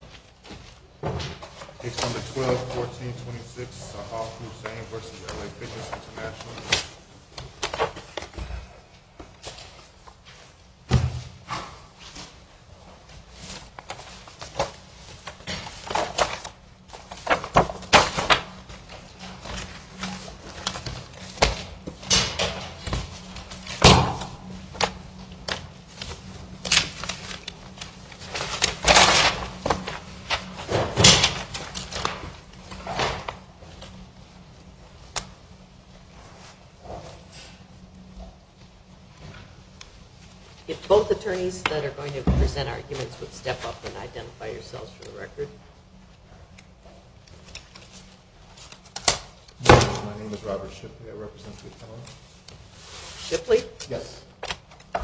Page 12, 14, 26, Sahar Hussain v. L.A. Fitness International. If both attorneys that are going to present arguments would step up and identify yourselves for the record. My name is Robert Shipley. I represent Fitness International. Shipley? Yes. Good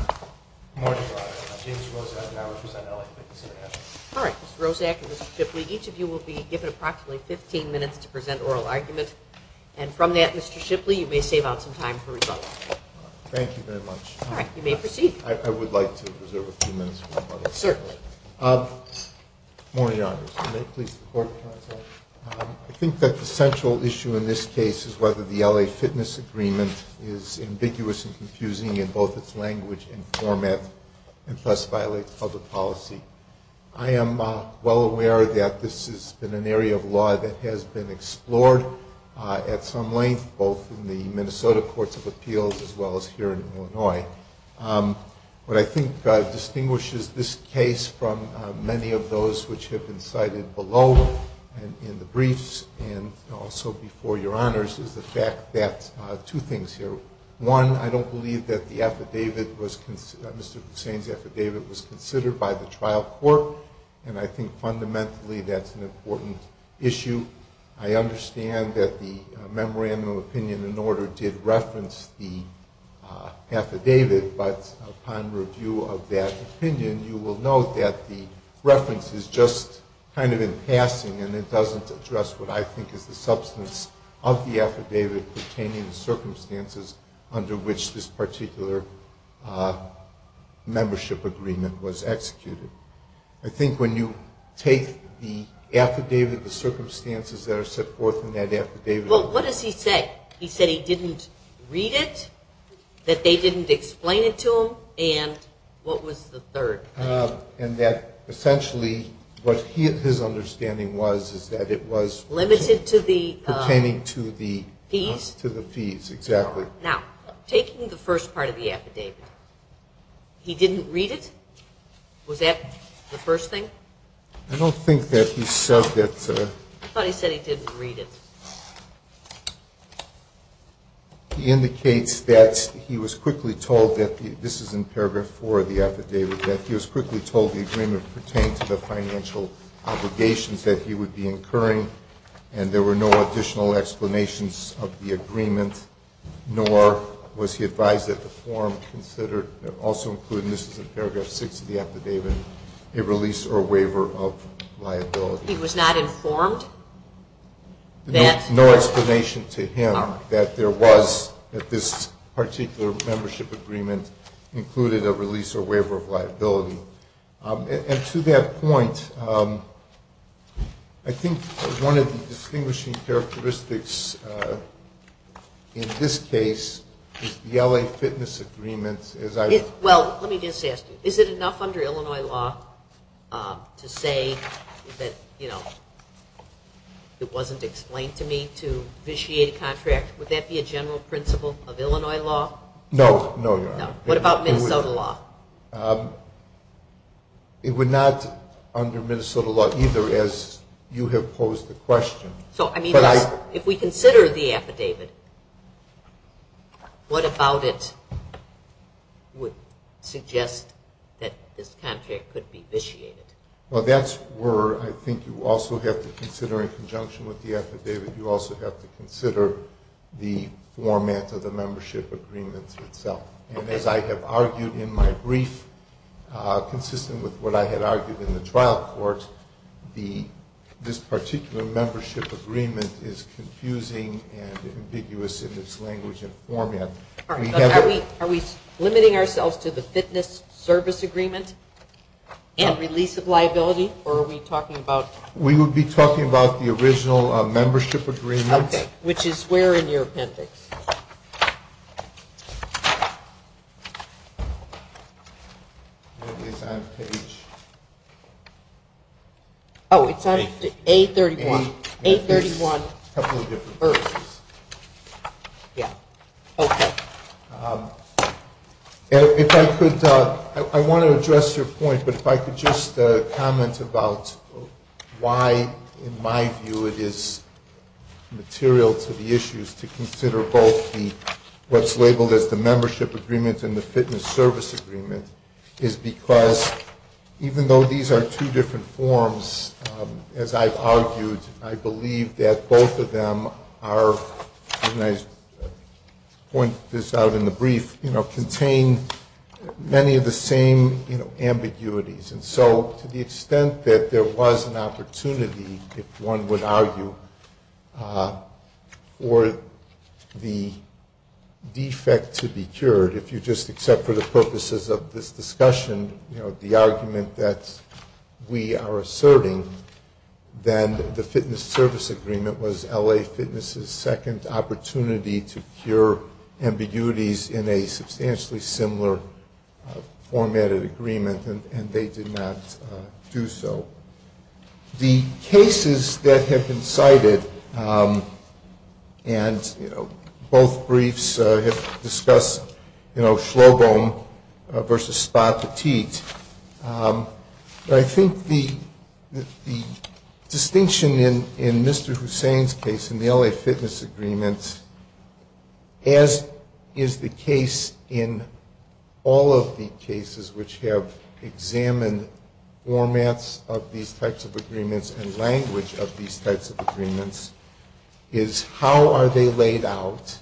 morning. My name is James Rose. I represent L.A. Fitness International. All right. Mr. Roszak and Mr. Shipley, each of you will be given approximately 15 minutes to present oral arguments. And from that, Mr. Shipley, you may save out some time for rebuttal. All right. Thank you very much. All right. You may proceed. I would like to reserve a few minutes for rebuttal. Certainly. Good morning, Your Honors. May it please the Court, Your Honor. I think that the central issue in this case is whether the L.A. Fitness Agreement is ambiguous and confusing in both its language and format and thus violates public policy. I am well aware that this has been an area of law that has been explored at some length both in the Minnesota Courts of Appeals as well as here in Illinois. What I think distinguishes this case from many of those which have been cited below and in the briefs and also before Your Honors is the fact that two things here. One, I don't believe that Mr. Hussain's affidavit was considered by the trial court and I think fundamentally that's an important issue. I understand that the Memorandum of Opinion and Order did reference the affidavit, but upon review of that opinion, you will note that the reference is just kind of in passing and it doesn't address what I think is the substance of the affidavit pertaining to circumstances under which this particular membership agreement was executed. I think when you take the affidavit, the circumstances that are set forth in that affidavit... Well, what does he say? He said he didn't read it, that they didn't explain it to him, and what was the third? And that essentially what his understanding was is that it was... Limited to the... Pertaining to the... Fees? To the fees, exactly. Now, taking the first part of the affidavit, he didn't read it? Was that the first thing? I don't think that he said that... I thought he said he didn't read it. He indicates that he was quickly told that this is in paragraph four of the affidavit, that he was quickly told the agreement pertained to the financial obligations that he would be incurring, and there were no additional explanations of the agreement, nor was he advised that the form considered, also included, and this is in paragraph six of the affidavit, a release or waiver of liability. He was not informed that... No explanation to him that there was, that this particular membership agreement included a release or waiver of liability. And to that point, I think one of the distinguishing characteristics in this case is the L.A. fitness agreement, as I... Well, let me just ask you. Is it enough under Illinois law to say that, you know, it wasn't explained to me to vitiate a contract? Would that be a general principle of Illinois law? No, no, Your Honor. What about Minnesota law? It would not under Minnesota law either, as you have posed the question. So, I mean, if we consider the affidavit, what about it would suggest that this contract could be vitiated? Well, that's where I think you also have to consider, in conjunction with the affidavit, you also have to consider the format of the membership agreement itself. And as I have argued in my brief, consistent with what I had argued in the trial court, this particular membership agreement is confusing and ambiguous in its language and format. Are we limiting ourselves to the fitness service agreement and release of liability, or are we talking about... We would be talking about the original membership agreement. Okay. Which is where in your appendix? Oh, it's on page... A31. A31. A couple of different verses. Yeah. Okay. If I could... I want to address your point, but if I could just comment about... Why, in my view, it is material to the issues to consider both what's labeled as the membership agreement and the fitness service agreement is because even though these are two different forms, as I've argued, I believe that both of them are... I'll point this out in the brief, contain many of the same ambiguities. And so, to the extent that there was an opportunity, if one would argue, for the defect to be cured, if you just accept for the purposes of this discussion the argument that we are asserting, then the fitness service agreement was LA Fitness's second opportunity to cure ambiguities in a substantially similar formatted agreement and they did not do so. The cases that have been cited and both briefs have discussed Schlobohm versus Spa Petit, but I think the distinction in Mr. Hussain's case in the LA Fitness agreement as is the case in all of the cases which have examined formats of these types of agreements and language of these types of agreements, is how are they laid out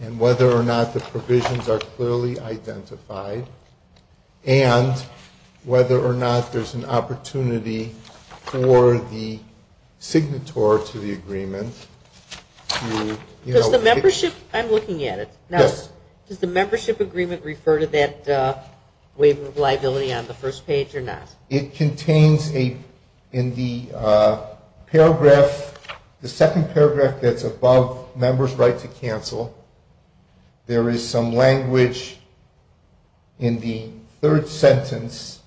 and whether or not the provisions are clearly identified and whether or not there's an opportunity for the signator to the agreement. Does the membership... I'm looking at it. Does the membership agreement refer to that waiver of liability on the first page or not? It contains in the paragraph, the second paragraph that's above members' right to cancel, there is some language in the third sentence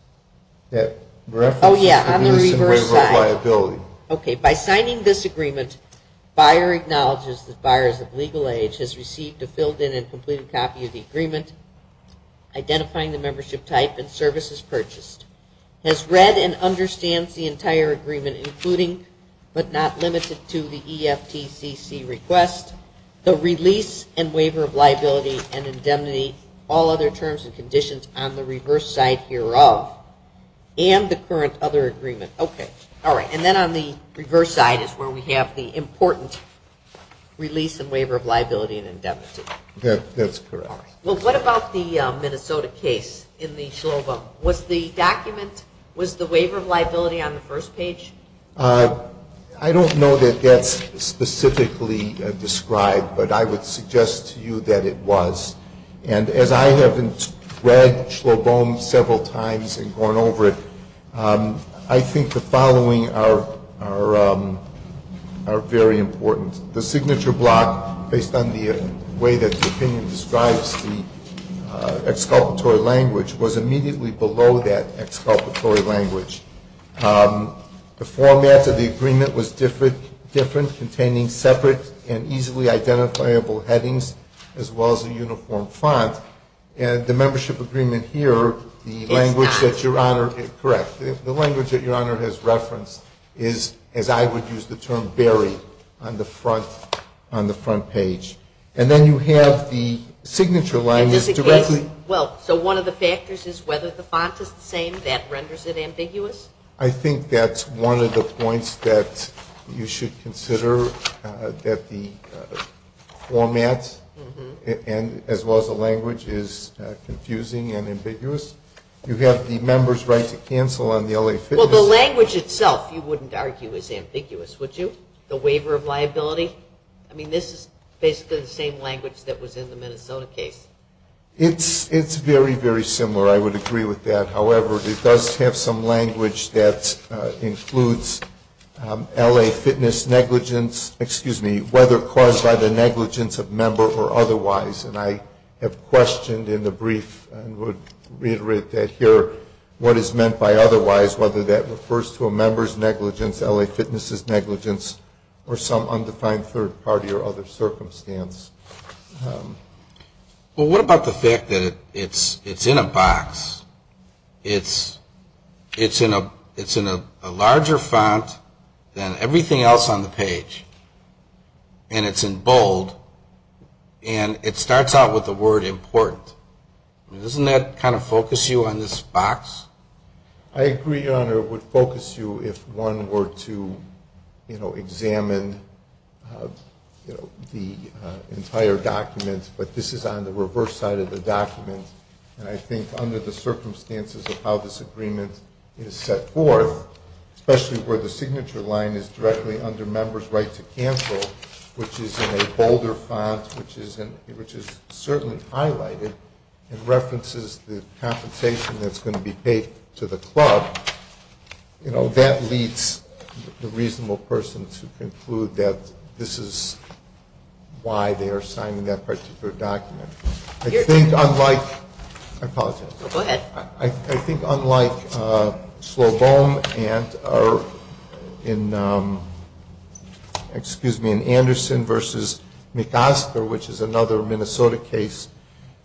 that references the waiver of liability. By signing this agreement, buyer acknowledges that buyers of legal age has received a filled-in and completed copy of the agreement, identifying the membership type and services purchased, has read and understands the entire agreement, including but not limited to the EFTCC request, the release and waiver of liability and indemnity, all other terms and conditions on the reverse side hereof, and the current other agreement. Okay. All right. And then on the reverse side is where we have the important release and waiver of liability and indemnity. That's correct. Well, what about the Minnesota case in the SLOBOM? Was the document, was the waiver of liability on the first page? I don't know that that's specifically described, but I would suggest to you that it was. And as I have read SLOBOM several times and gone over it, I think the following are very important. The signature block, based on the way that the opinion describes the exculpatory language, was immediately below that exculpatory language. The format of the agreement was different, containing separate and easily identifiable headings, as well as a uniform font. And the membership agreement here, the language that Your Honor, correct, the language that Your Honor has referenced is, as I would use the term, very on the front page. And then you have the signature language directly. Well, so one of the factors is whether the font is the same. That renders it ambiguous. I think that's one of the points that you should consider, that the format, as well as the language, is confusing and ambiguous. You have the member's right to cancel on the LA Fitness. Well, the language itself, you wouldn't argue, is ambiguous, would you? The waiver of liability? I mean, this is basically the same language that was in the Minnesota case. It's very, very similar. I would agree with that. However, it does have some language that includes LA Fitness negligence, excuse me, whether caused by the negligence of member or otherwise. And I have questioned in the brief, and would reiterate that here, what is meant by otherwise, whether that refers to a member's negligence, LA Fitness's negligence, or some undefined third party or other circumstance. Well, what about the fact that it's in a box? It's in a larger font than everything else on the page. And it's in bold. And it starts out with the word important. Doesn't that kind of focus you on this box? I agree, Your Honor, it would focus you if one were to examine the entire document. But this is on the reverse side of the document. And I think under the circumstances of how this agreement is set forth, especially where the signature line is directly under member's right to cancel, which is in a bolder font, which is certainly highlighted, and references the compensation that's going to be paid to the club, you know, that leads the reasonable person to conclude that this is why they are signing that particular document. I think unlike, I apologize. In Anderson v. McOsker, which is another Minnesota case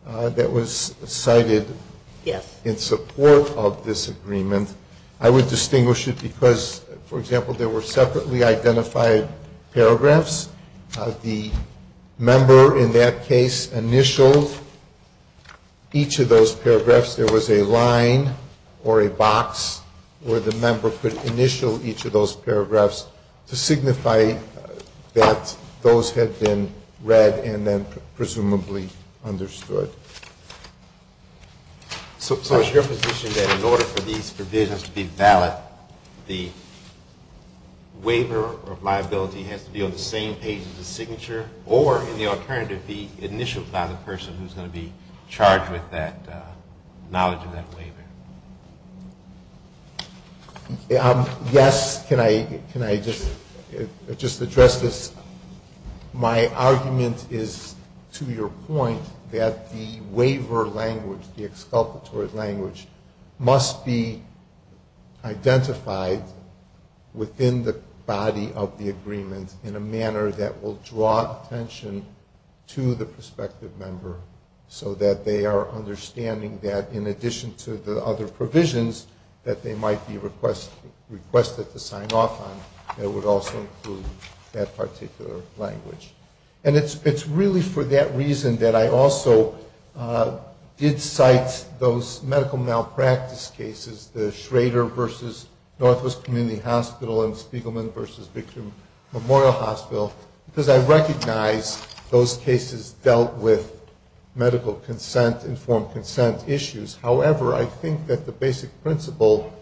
that was cited in support of this agreement, I would distinguish it because, for example, there were separately identified paragraphs. The member in that case initialed each of those paragraphs. There was a line or a box where the member could initial each of those paragraphs to signify that those had been read and then presumably understood. So is your position that in order for these provisions to be valid, the waiver of liability has to be on the same page as the signature, or in the alternative, the initial file of the person who's going to be charged with that knowledge of that waiver? Yes. Can I just address this? My argument is, to your point, that the waiver language, the exculpatory language, must be identified within the body of the agreement in a manner that will draw attention to the prospective member so that they are understanding that in addition to the other provisions that they might be requested to sign off on, it would also include that particular language. And it's really for that reason that I also did cite those medical malpractice cases, the Schrader versus Northwest Community Hospital and Spiegelman versus Victory Memorial Hospital, because I recognize those cases dealt with medical consent, informed consent issues. However, I think that the basic principle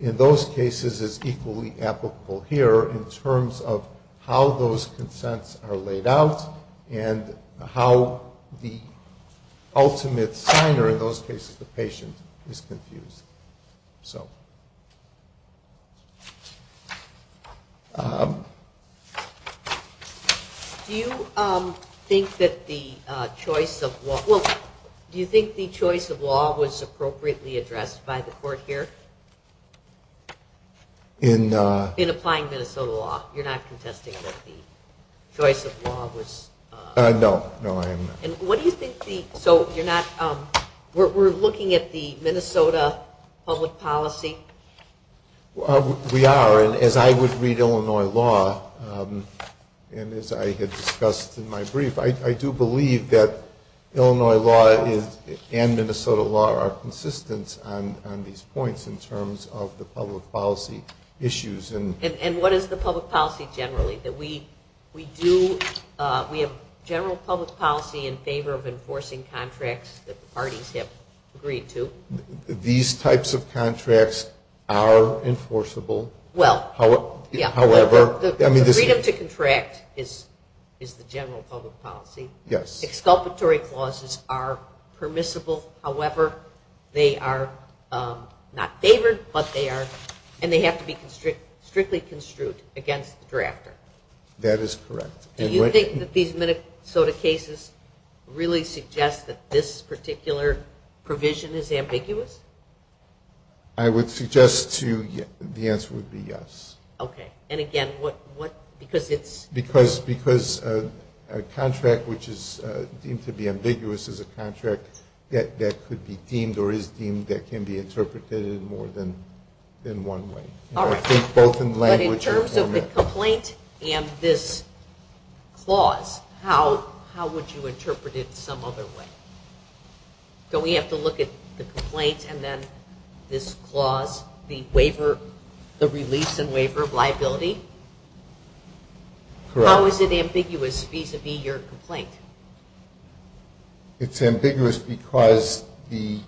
in those cases is equally applicable here in terms of how those consents are laid out and how the ultimate signer, in those cases the patient, is confused. So... Do you think that the choice of law was appropriately addressed by the court here? In... In applying Minnesota law. You're not contesting that the choice of law was... No, no, I am not. What do you think the... So you're not... We're looking at the Minnesota public policy? We are, and as I would read Illinois law, and as I had discussed in my brief, I do believe that Illinois law and Minnesota law are consistent on these points in terms of the public policy issues. And what is the public policy generally? That we do... The public policy in favor of enforcing contracts that the parties have agreed to? These types of contracts are enforceable. Well... However... The freedom to contract is the general public policy. Yes. Exculpatory clauses are permissible. However, they are not favored, but they are... And they have to be strictly construed against the drafter. That is correct. Do you think that these Minnesota cases really suggest that this particular provision is ambiguous? I would suggest the answer would be yes. Okay. And again, what... Because it's... Because a contract which is deemed to be ambiguous is a contract that could be deemed or is deemed that can be interpreted in more than one way. Alright. Both in language... But in terms of the complaint and this clause, how would you interpret it some other way? Do we have to look at the complaint and then this clause, the waiver... The release and waiver of liability? Correct. How is it ambiguous vis-a-vis your complaint? It's ambiguous because the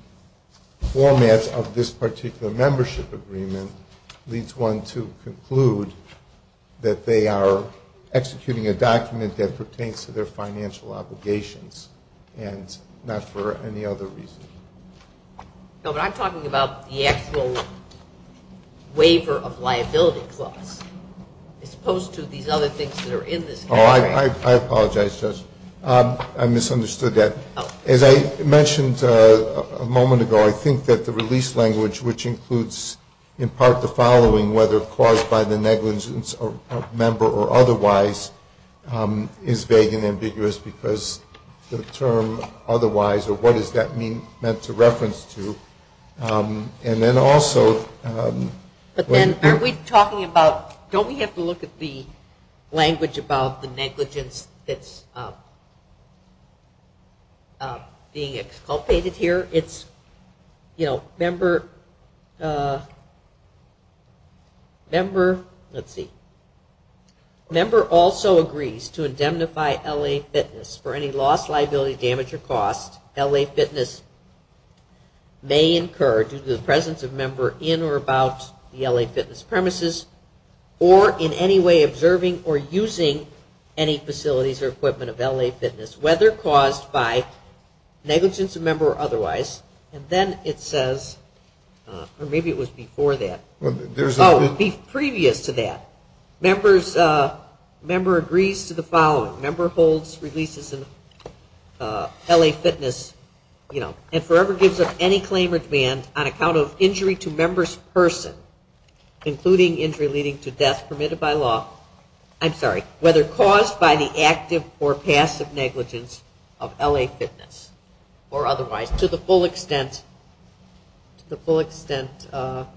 format of this particular membership agreement leads one to conclude that they are executing a document that pertains to their financial obligations and not for any other reason. No, but I'm talking about the actual waiver of liability clause as opposed to these other things that are in this contract. I apologize, Judge. I misunderstood that. As I mentioned a moment ago, I think that the release language, which includes in part the following, whether caused by the negligence of a member or otherwise, is vague and ambiguous because the term otherwise or what is that meant to reference to? And then also... But then are we talking about... Don't we have to look at the language about the negligence that's being exculpated here? It's, you know, member... Let's see. Member also agrees to indemnify L.A. Fitness for any loss, liability, damage or cost L.A. Fitness may incur due to the presence of a member in or about the L.A. Fitness premises or in any way observing or using any facilities or equipment of L.A. Fitness, whether caused by negligence of a member or otherwise. And then it says... Or maybe it was before that. Oh, previous to that. Member agrees to the following. Member holds releases in L.A. Fitness and forever gives up any claim or demand on account of injury to member's person, including injury leading to death permitted by law, I'm sorry, whether caused by the active or passive negligence of L.A. Fitness or otherwise to the full extent for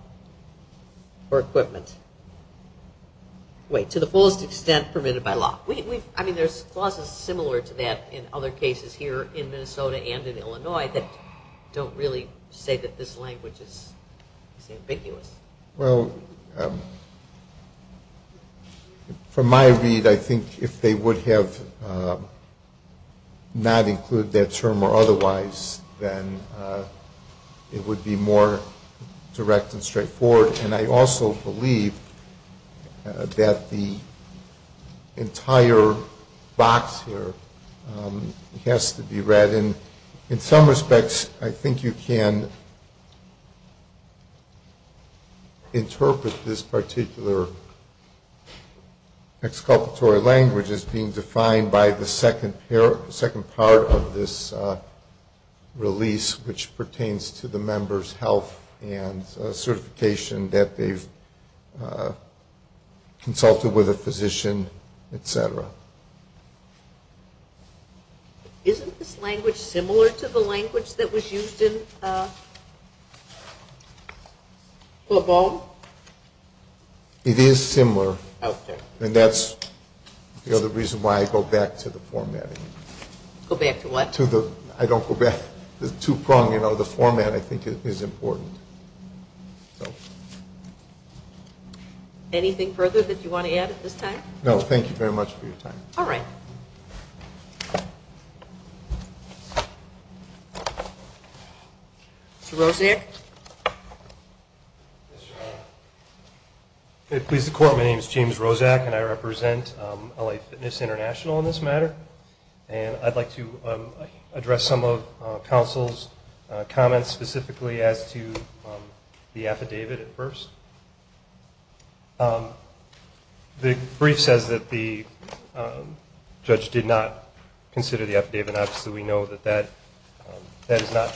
equipment. Wait. To the fullest extent permitted by law. I mean, there's clauses similar to that in other cases here in Minnesota and in Illinois that don't really say that this language is ambiguous. Well, from my read, I think if they would have not included that term or otherwise, then it would be more direct and straightforward. And I also believe that the entire box here has to be read. And in some respects, I think you can interpret this particular exculpatory language as being defined by the second part of this release, which pertains to the member's health and certification that they've consulted with a physician, et cetera. Isn't this language similar to the language that was used in Le Bon? It is similar. And that's the other reason why I go back to the formatting. I don't go back. The format, I think, is important. Anything further that you want to add at this time? No, thank you very much for your time. All right. Mr. Rosiak? Yes, Your Honor. It pleases the Court, my name is James Rosiak and I represent LA Fitness International in this matter. And I'd like to address some of counsel's comments specifically as to the affidavit at first. The brief says that the judge did not consider the affidavit. And obviously we know that that is not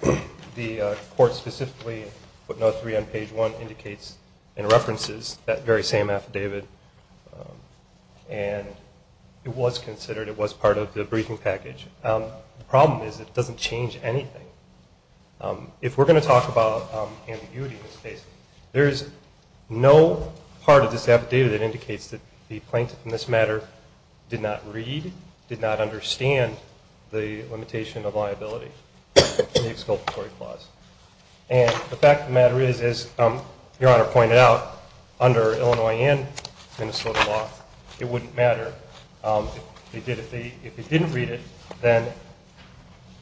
true. The Court specifically, footnote 3 on page 1, indicates and references that very same affidavit and it was considered, it was part of the briefing package. The problem is it doesn't change anything. If we're going to talk about ambiguity in this case, there is no part of this affidavit that indicates that the plaintiff in this matter did not read, did not understand the limitation of liability in the exculpatory clause. And the fact of the matter is, as Your Honor pointed out, under Illinois and Minnesota law, it wouldn't matter if they didn't read it, then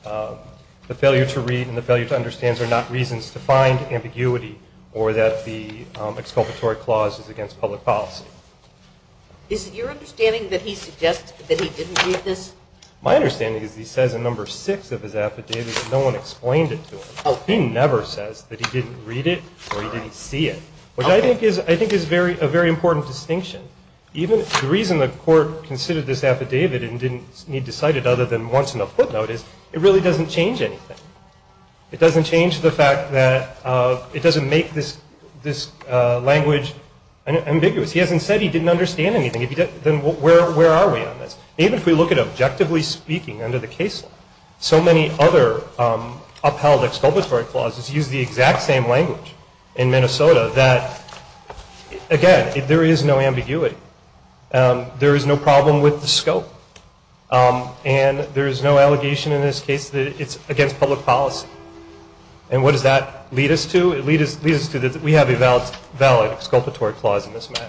the failure to read and the failure to understand are not reasons to find ambiguity or that the exculpatory clause is against public policy. Is it your understanding that he suggests that he didn't read this? My understanding is he says in number 6 of his affidavit that no one explained it to him. He never says that he didn't read it or he didn't see it. Which I think is a very important distinction. The reason the Court considered this affidavit and didn't need to cite it other than once in a footnote is it really doesn't change anything. It doesn't make this language ambiguous. He hasn't said he didn't understand anything. Then where are we on this? Even if we look at objectively speaking under the case law, so many other upheld exculpatory clauses use the exact same language in Minnesota that again, there is no ambiguity. There is no problem with the scope. And there is no allegation in this case that it's against public policy. And what does that lead us to? We have a valid exculpatory clause in this matter.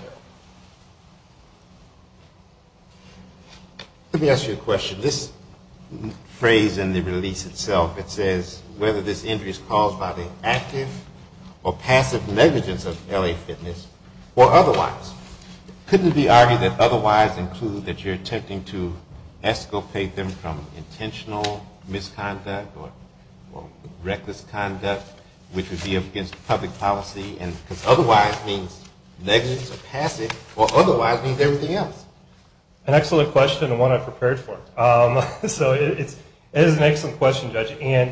Let me ask you a question. This phrase in the release itself it says whether this injury is caused by the active or passive negligence of LA Fitness or otherwise. Couldn't it be argued that otherwise include that you're attempting to escapade them from intentional misconduct or reckless conduct which would be against public policy? Because otherwise means negligence or passive or otherwise means everything else. An excellent question and one I prepared for. It is an excellent question, Judge.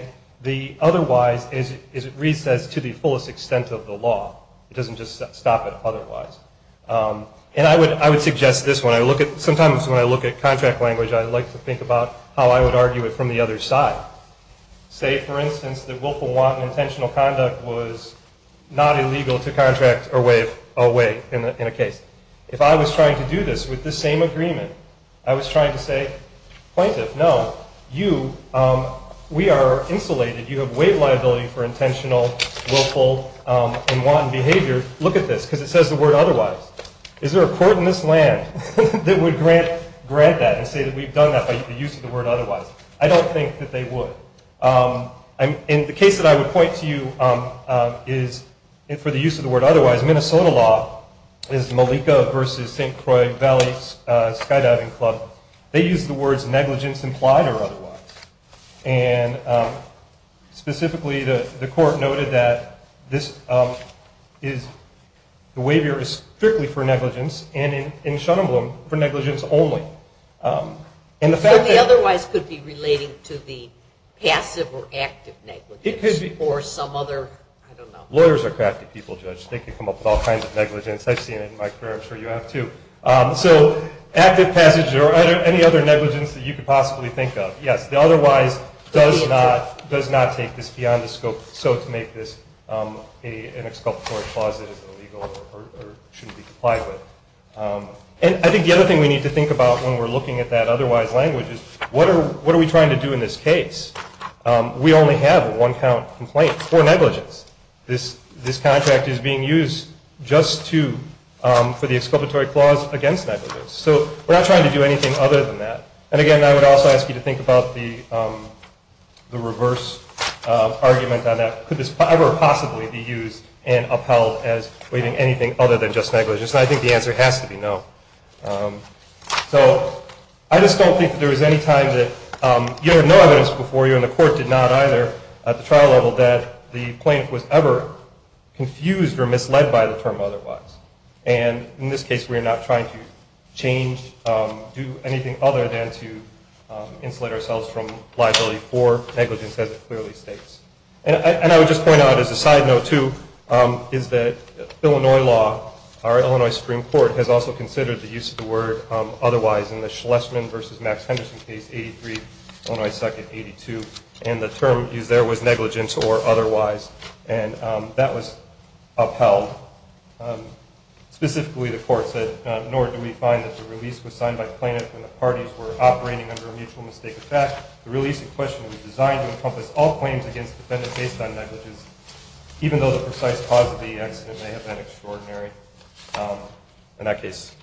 Otherwise reads as to the fullest extent of the law. It doesn't just stop at otherwise. And I would suggest this one. Sometimes when I look at contract language I like to think about how I would argue it from the other side. Say, for instance, that willful wanton intentional conduct was not illegal to contract or waive in a case. If I was trying to do this with the same agreement I was trying to say, plaintiff, no. You, we are insulated. You have waived liability for intentional, willful and wanton behavior. Look at this because it says the word otherwise. Is there a court in this land that would grant that and say that we've done that by the use of the word otherwise? I don't think that they would. In the case that I would point to you for the use of the word otherwise, Minnesota law is Malika v. St. Croix Valley Skydiving Club. They use the words negligence implied or otherwise. And specifically the court noted that the waiver is strictly for negligence and in Shunem Bloom for negligence only. So the otherwise could be relating to the passive or active negligence or some other, I don't know. Lawyers are crafty people, Judge. They can come up with all kinds of negligence. I've seen it in my career. I'm sure you have too. So active passage or any other negligence that you could possibly think of. The otherwise does not take this beyond the scope to make this an exculpatory clause that is illegal or shouldn't be complied with. And I think the other thing we need to think about when we're looking at that otherwise language is what are we trying to do in this case? We only have one count complaints or negligence. This contract is being used just for the exculpatory clause against negligence. So we're not trying to do anything other than that. And again, I would also ask you to think about the reverse argument on that. Could this ever possibly be used and upheld as waiving anything other than just negligence? And I think the answer has to be no. I just don't think there was any time that you have no evidence before you and the court did not either at the trial level that the plaintiff was ever confused or misled by the term otherwise. And in this case we're not trying to change do anything other than to insulate ourselves from liability for negligence as it clearly states. And I would just point out as a side note too is that Illinois law, our Illinois Supreme Court has also considered the use of the word otherwise in the Schlesman v. Max Henderson case 83 and the term used there was negligence or otherwise. And that was upheld. Specifically the court said nor do we find that the release was signed by the plaintiff when the parties were operating under a mutual mistake. In fact, the release in question was designed to encompass all claims against the defendant based on negligence even though the precise cause of the accident may have been extraordinary. In that case,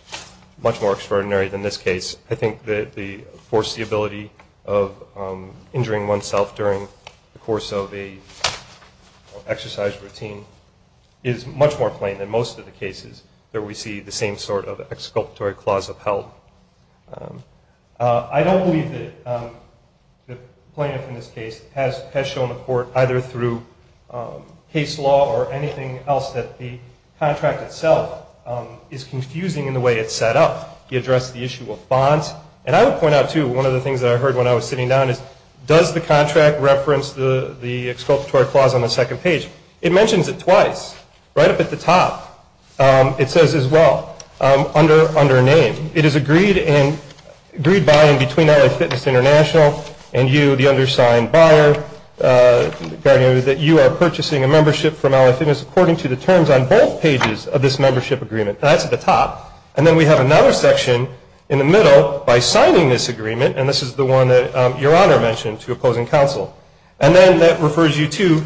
much more extraordinary than this case. I think the foreseeability of injuring oneself during the course of a exercise routine is much more plain than most of the cases that we see the same sort of exculpatory clause upheld. I don't believe that the plaintiff in this case has shown the court either through case law or anything else that the contract itself is confusing in the way it's set up. He addressed the issue of bonds and I would point out too, one of the things I heard when I was sitting down is does the contract reference the exculpatory clause on the second page? It mentions it twice. Right up at the top it says as well under name. It is agreed by and between LA Fitness International and you, the undersigned buyer that you are purchasing a membership from LA Fitness according to the terms on both pages of this membership agreement. That's at the top and then we have another section in the middle by signing this agreement and this is the one that Your Honor mentioned to opposing counsel. And then that refers you to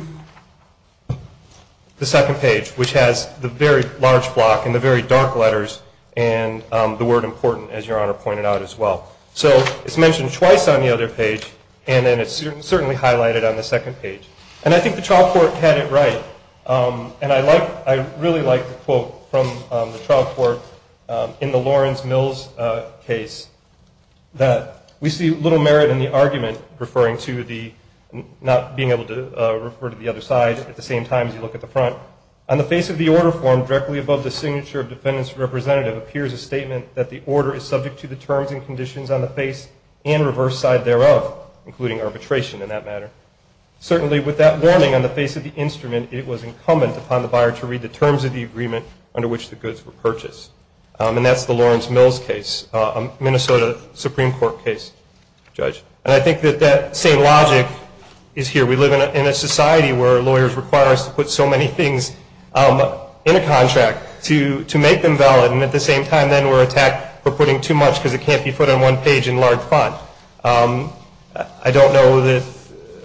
the second page which has the very large block and the very dark letters and the word important as Your Honor pointed out as well. So it's mentioned twice on the other page and then it's certainly highlighted on the second page. And I think the trial court had it right and I really like the quote from the trial court in the Lawrence Mills case that we see little merit in the argument referring to the not being able to refer to the other side at the same time as you look at the front. On the face of the order form directly above the signature of the defendant's representative appears a statement that the order is subject to the including arbitration in that matter. Certainly with that warning on the face of the instrument it was incumbent upon the buyer to read the terms of the agreement under which the goods were purchased. And that's the Lawrence Mills case, Minnesota Supreme Court case, Judge. And I think that that same logic is here. We live in a society where lawyers require us to put so many things in a contract to make them valid and at the same time then we're attacked for putting too much because it can't be put on one page in large font.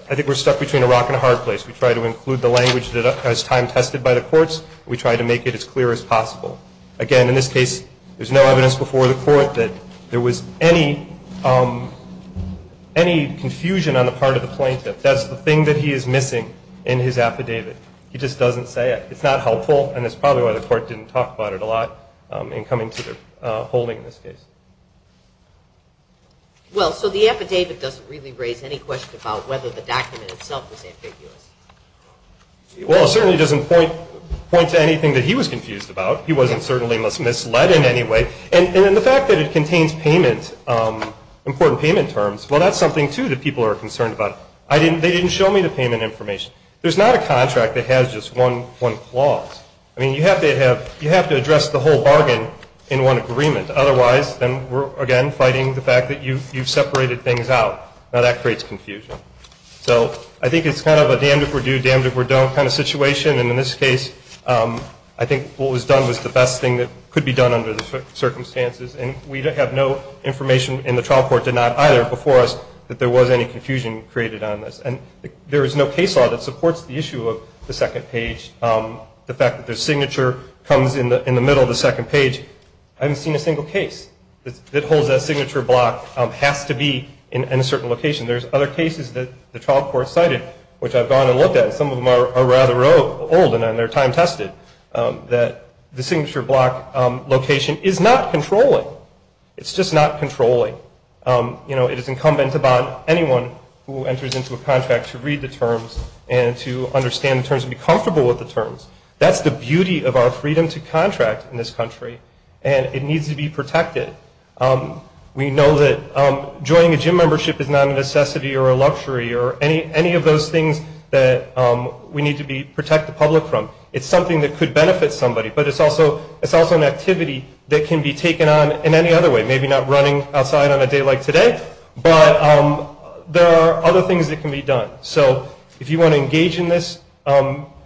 I think we're stuck between a rock and a hard place. We try to include the language that has time tested by the courts and we try to make it as clear as possible. Again, in this case there's no evidence before the court that there was any confusion on the part of the plaintiff. That's the thing that he is missing in his affidavit. He just doesn't say it. It's not helpful and that's probably why the court didn't talk about it a lot in coming to their holding in this case. Well, so the affidavit doesn't really raise any question about whether the document itself was ambiguous. Well, it certainly doesn't point to anything that he was confused about. He wasn't certainly misled in any way. And the fact that it contains important payment terms, well that's something too that people are concerned about. They didn't show me the payment information. There's not a contract that has just one clause. You have to address the whole bargain in one agreement. Otherwise, then we're again fighting the fact that you've separated things out. Now that creates confusion. So I think it's kind of a damned if we're do, damned if we're don't kind of situation and in this case I think what was done was the best thing that could be done under the circumstances and we have no information in the trial court did not either before us that there was any confusion created on this and there is no case law that supports the issue of the second page. The fact that the signature comes in the middle of the second page, I haven't seen a single case that holds that signature block has to be in a certain location. There's other cases that the trial court cited which I've gone and looked at. Some of them are rather old and they're time tested that the signature block location is not controlling. It's just not controlling. It is incumbent upon anyone who enters into a contract to read the terms and to understand the terms and be comfortable with the terms. That's the beauty of our freedom to contract in this country and it needs to be protected. We know that joining a gym membership is not a necessity or a luxury or any of those things that we need to protect the public from. It's something that could benefit somebody but it's also an activity that can be taken on in any other way. Maybe not running outside on a day like today but there are other things that can be done. If you want to engage in this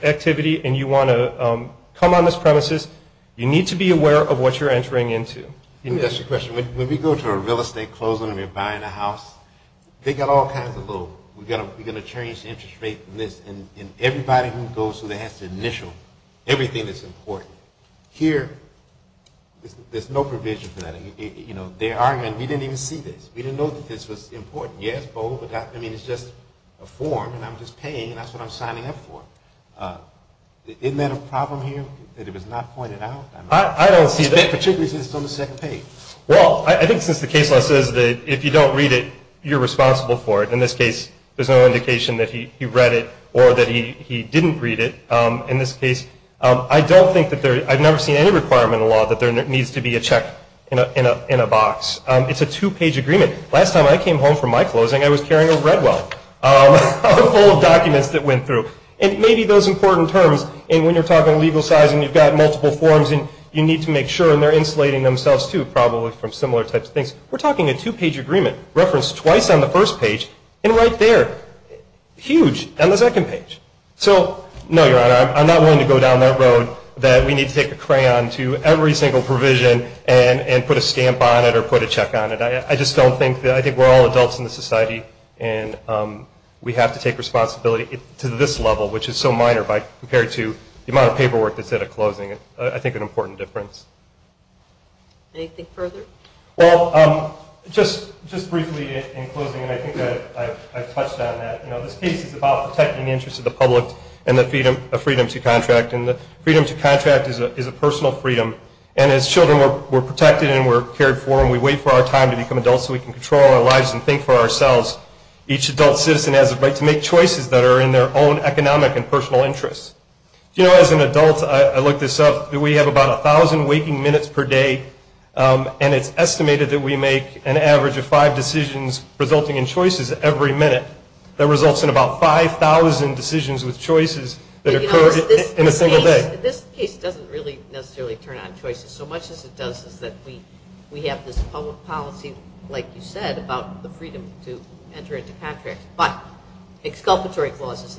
activity and you want to come on this premises you need to be aware of what you're entering into. When we go to a real estate closing and we're buying a house we're going to change the interest rate and everybody who goes has to initial everything that's important. Here, there's no provision for that. We didn't even see this. We didn't know that this was important. It's just a form and I'm just paying and that's what I'm signing up for. Isn't that a problem here that it was not pointed out? I don't see that. Particularly since it's on the second page. Well, I think since the case law says that if you don't read it you're responsible for it. In this case, there's no indication that he read it or that he didn't read it. I've never seen any requirement in the law that there needs to be a check in a box. It's a two-page agreement. Last time I came home from my closing I was carrying a Redwell full of documents that went through. And maybe those important terms and when you're talking legal size and you've got multiple forms and you need to make sure and they're insulating themselves too probably from similar types of things. We're talking a two-page agreement referenced twice on the first page and right there, huge, on the second page. I'm not willing to go down that road that we need to take a crayon to every single provision and put a stamp on it or put a check on it. I think we're all adults in this society and we have to take responsibility to this level which is so minor compared to the amount of paperwork that's at a closing, I think an important difference. Anything further? Just briefly in closing, I think I've touched on that. This piece is about protecting the interests of the public and the freedom to contract. Freedom to contract is a personal freedom and as children we're protected and we're cared for and we wait for our time to become adults so we can control our lives and think for ourselves. Each adult citizen has a right to make choices that are in their own economic and personal interests. As an adult, I look this up, we have about 1,000 waking minutes per day and it's estimated that we make an average of 5 decisions resulting in choices every minute that results in about 5,000 decisions with choices that occur in a single day. This case doesn't really necessarily turn on choices so much as it does is that we have this public policy like you said about the freedom to enter into contracts but exculpatory clauses,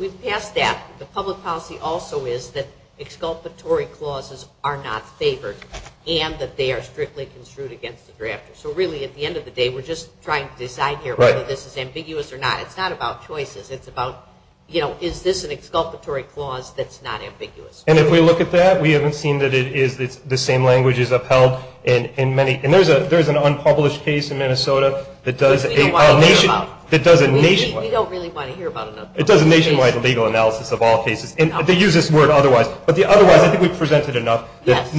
we've passed that, the public policy also is that exculpatory clauses are not favored and that they are strictly construed against the drafter so really at the end of the day we're just trying to decide here whether this is ambiguous or not. It's not about choices, it's about is this an exculpatory clause that's not ambiguous. If we look at that, we haven't seen that it's the same language as upheld and there's an unpublished case in Minnesota that does a nationwide legal analysis of all cases and they use this word otherwise but the otherwise I think we've presented enough that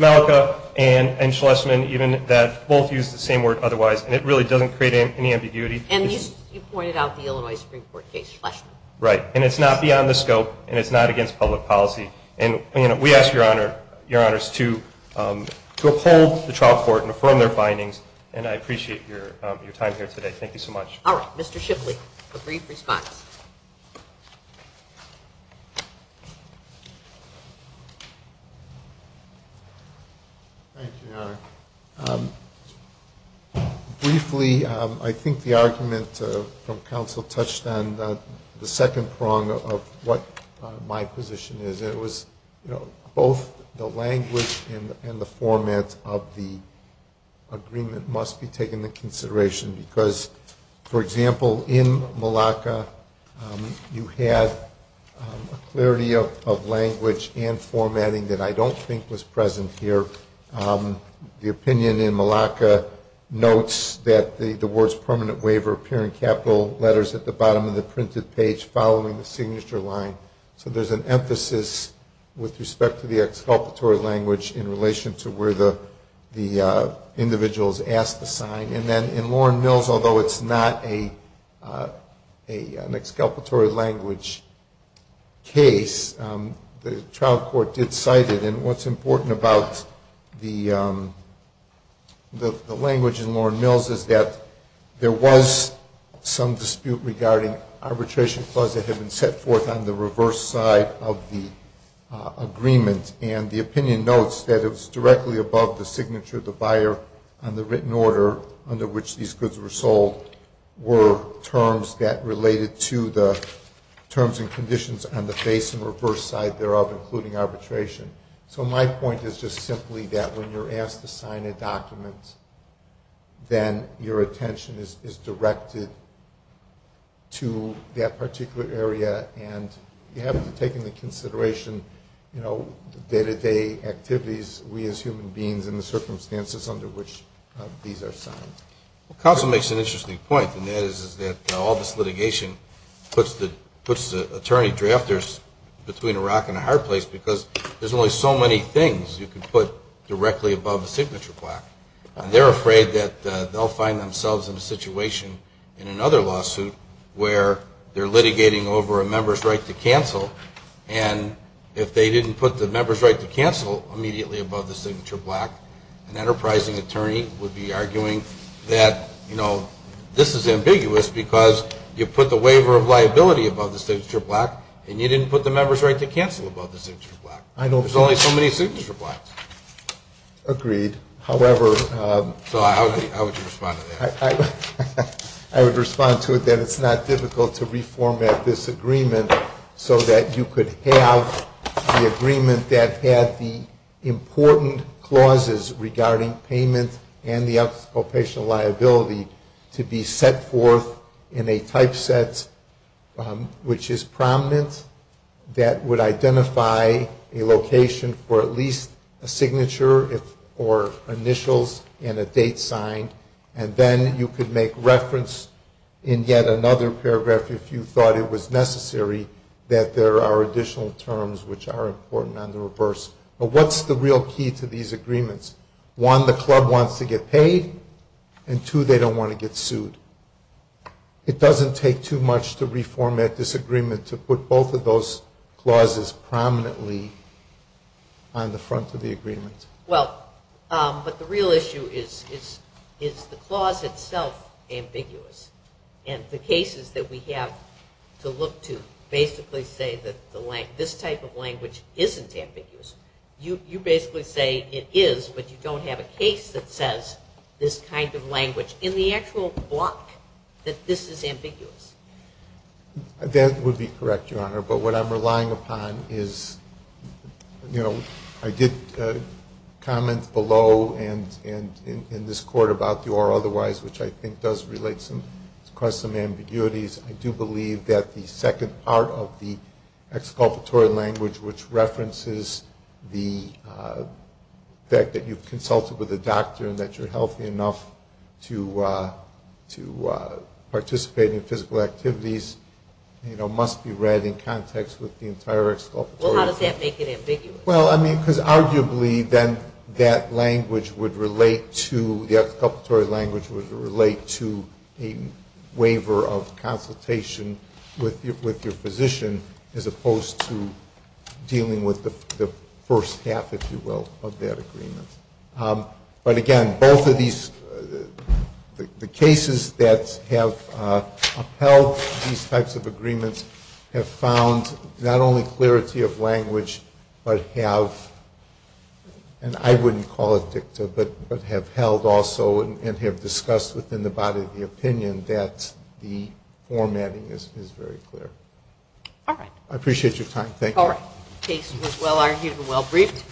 Malika and Schlesman both use the same word otherwise and it really doesn't create any ambiguity. And you pointed out the Illinois Supreme Court case, Schlesman. Right, and it's not beyond the scope and it's not against public policy and we ask your honors to uphold the trial court and affirm their findings and I appreciate your time here today, thank you so much. Alright, Mr. Shipley, a brief response. Thank you, Your Honor. Briefly, I think the argument from counsel touched on the second prong of what my position is. It was both the language and the format of the agreement must be taken into consideration because, for example, in Malaka you had a clarity of language and formatting that I don't think was present here. The opinion in Malaka notes that the words permanent waiver appear in capital letters at the bottom of the printed page following the signature line so there's an emphasis with respect to the exculpatory language in relation to where the individual's asked to sign and then in Lorne Mills although it's not an exculpatory language case, the trial court did cite it and what's important about the language in Lorne Mills is that there was some dispute regarding arbitration clause that had been set forth on the reverse side of the agreement and the opinion notes that it was directly above the signature of the buyer on the written order under which these goods were sold were terms that related to the terms and conditions on the face and reverse side thereof including arbitration. So my point is just simply that when you're asked to sign a document then your attention is directed to that particular area and you have to take into consideration the day-to-day activities we as human beings and the circumstances under which these are signed. Council makes an interesting point and that is that all this litigation puts the attorney-drafters between a rock and a hard place because there's only so many things you can put directly above the signature plaque and they're afraid that they'll find themselves in a situation in another lawsuit where they're litigating over a member's right to cancel and if they didn't put the member's right to cancel immediately above the signature plaque an enterprising attorney would be arguing that this is ambiguous because you put the waiver of liability above the signature plaque and you didn't put the member's right to cancel above the signature plaque. There's only so many signature plaques. Agreed. How would you respond to that? I would respond to it that it's not difficult to reformat this agreement so that you could have the agreement that had the important clauses regarding payment and the occupational liability to be set forth in a typeset which is prominent that would identify a location for at least a signature or initials and a date signed and then you could make reference in yet another paragraph if you thought it was important on the reverse. But what's the real key to these agreements? One, the club wants to get paid and two, they don't want to get sued. It doesn't take too much to reformat this agreement to put both of those clauses prominently on the front of the agreement. Well, but the real issue is the clause itself ambiguous and the cases that we have to look to basically say that this type of language isn't ambiguous. You basically say it is but you don't have a case that says this kind of language in the actual block that this is ambiguous. That would be correct Your Honor, but what I'm relying upon is I did comment below and in this court about the or otherwise which I think does cause some of the exculpatory language which references the fact that you've consulted with a doctor and that you're healthy enough to participate in physical activities must be read in context with the entire exculpatory. Well how does that make it ambiguous? Well, I mean because arguably then that language would relate to, the exculpatory language would relate to a waiver of a physician as opposed to dealing with the first half, if you will, of that agreement. But again, both of these the cases that have upheld these types of agreements have found not only clarity of language but have, and I wouldn't call it dicta, but have held also and have discussed within the body of the opinion that the formatting is very clear. I appreciate your time. Thank you. The case was well argued and well briefed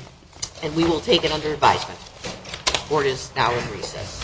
and we will take it under advisement. The court is now in recess.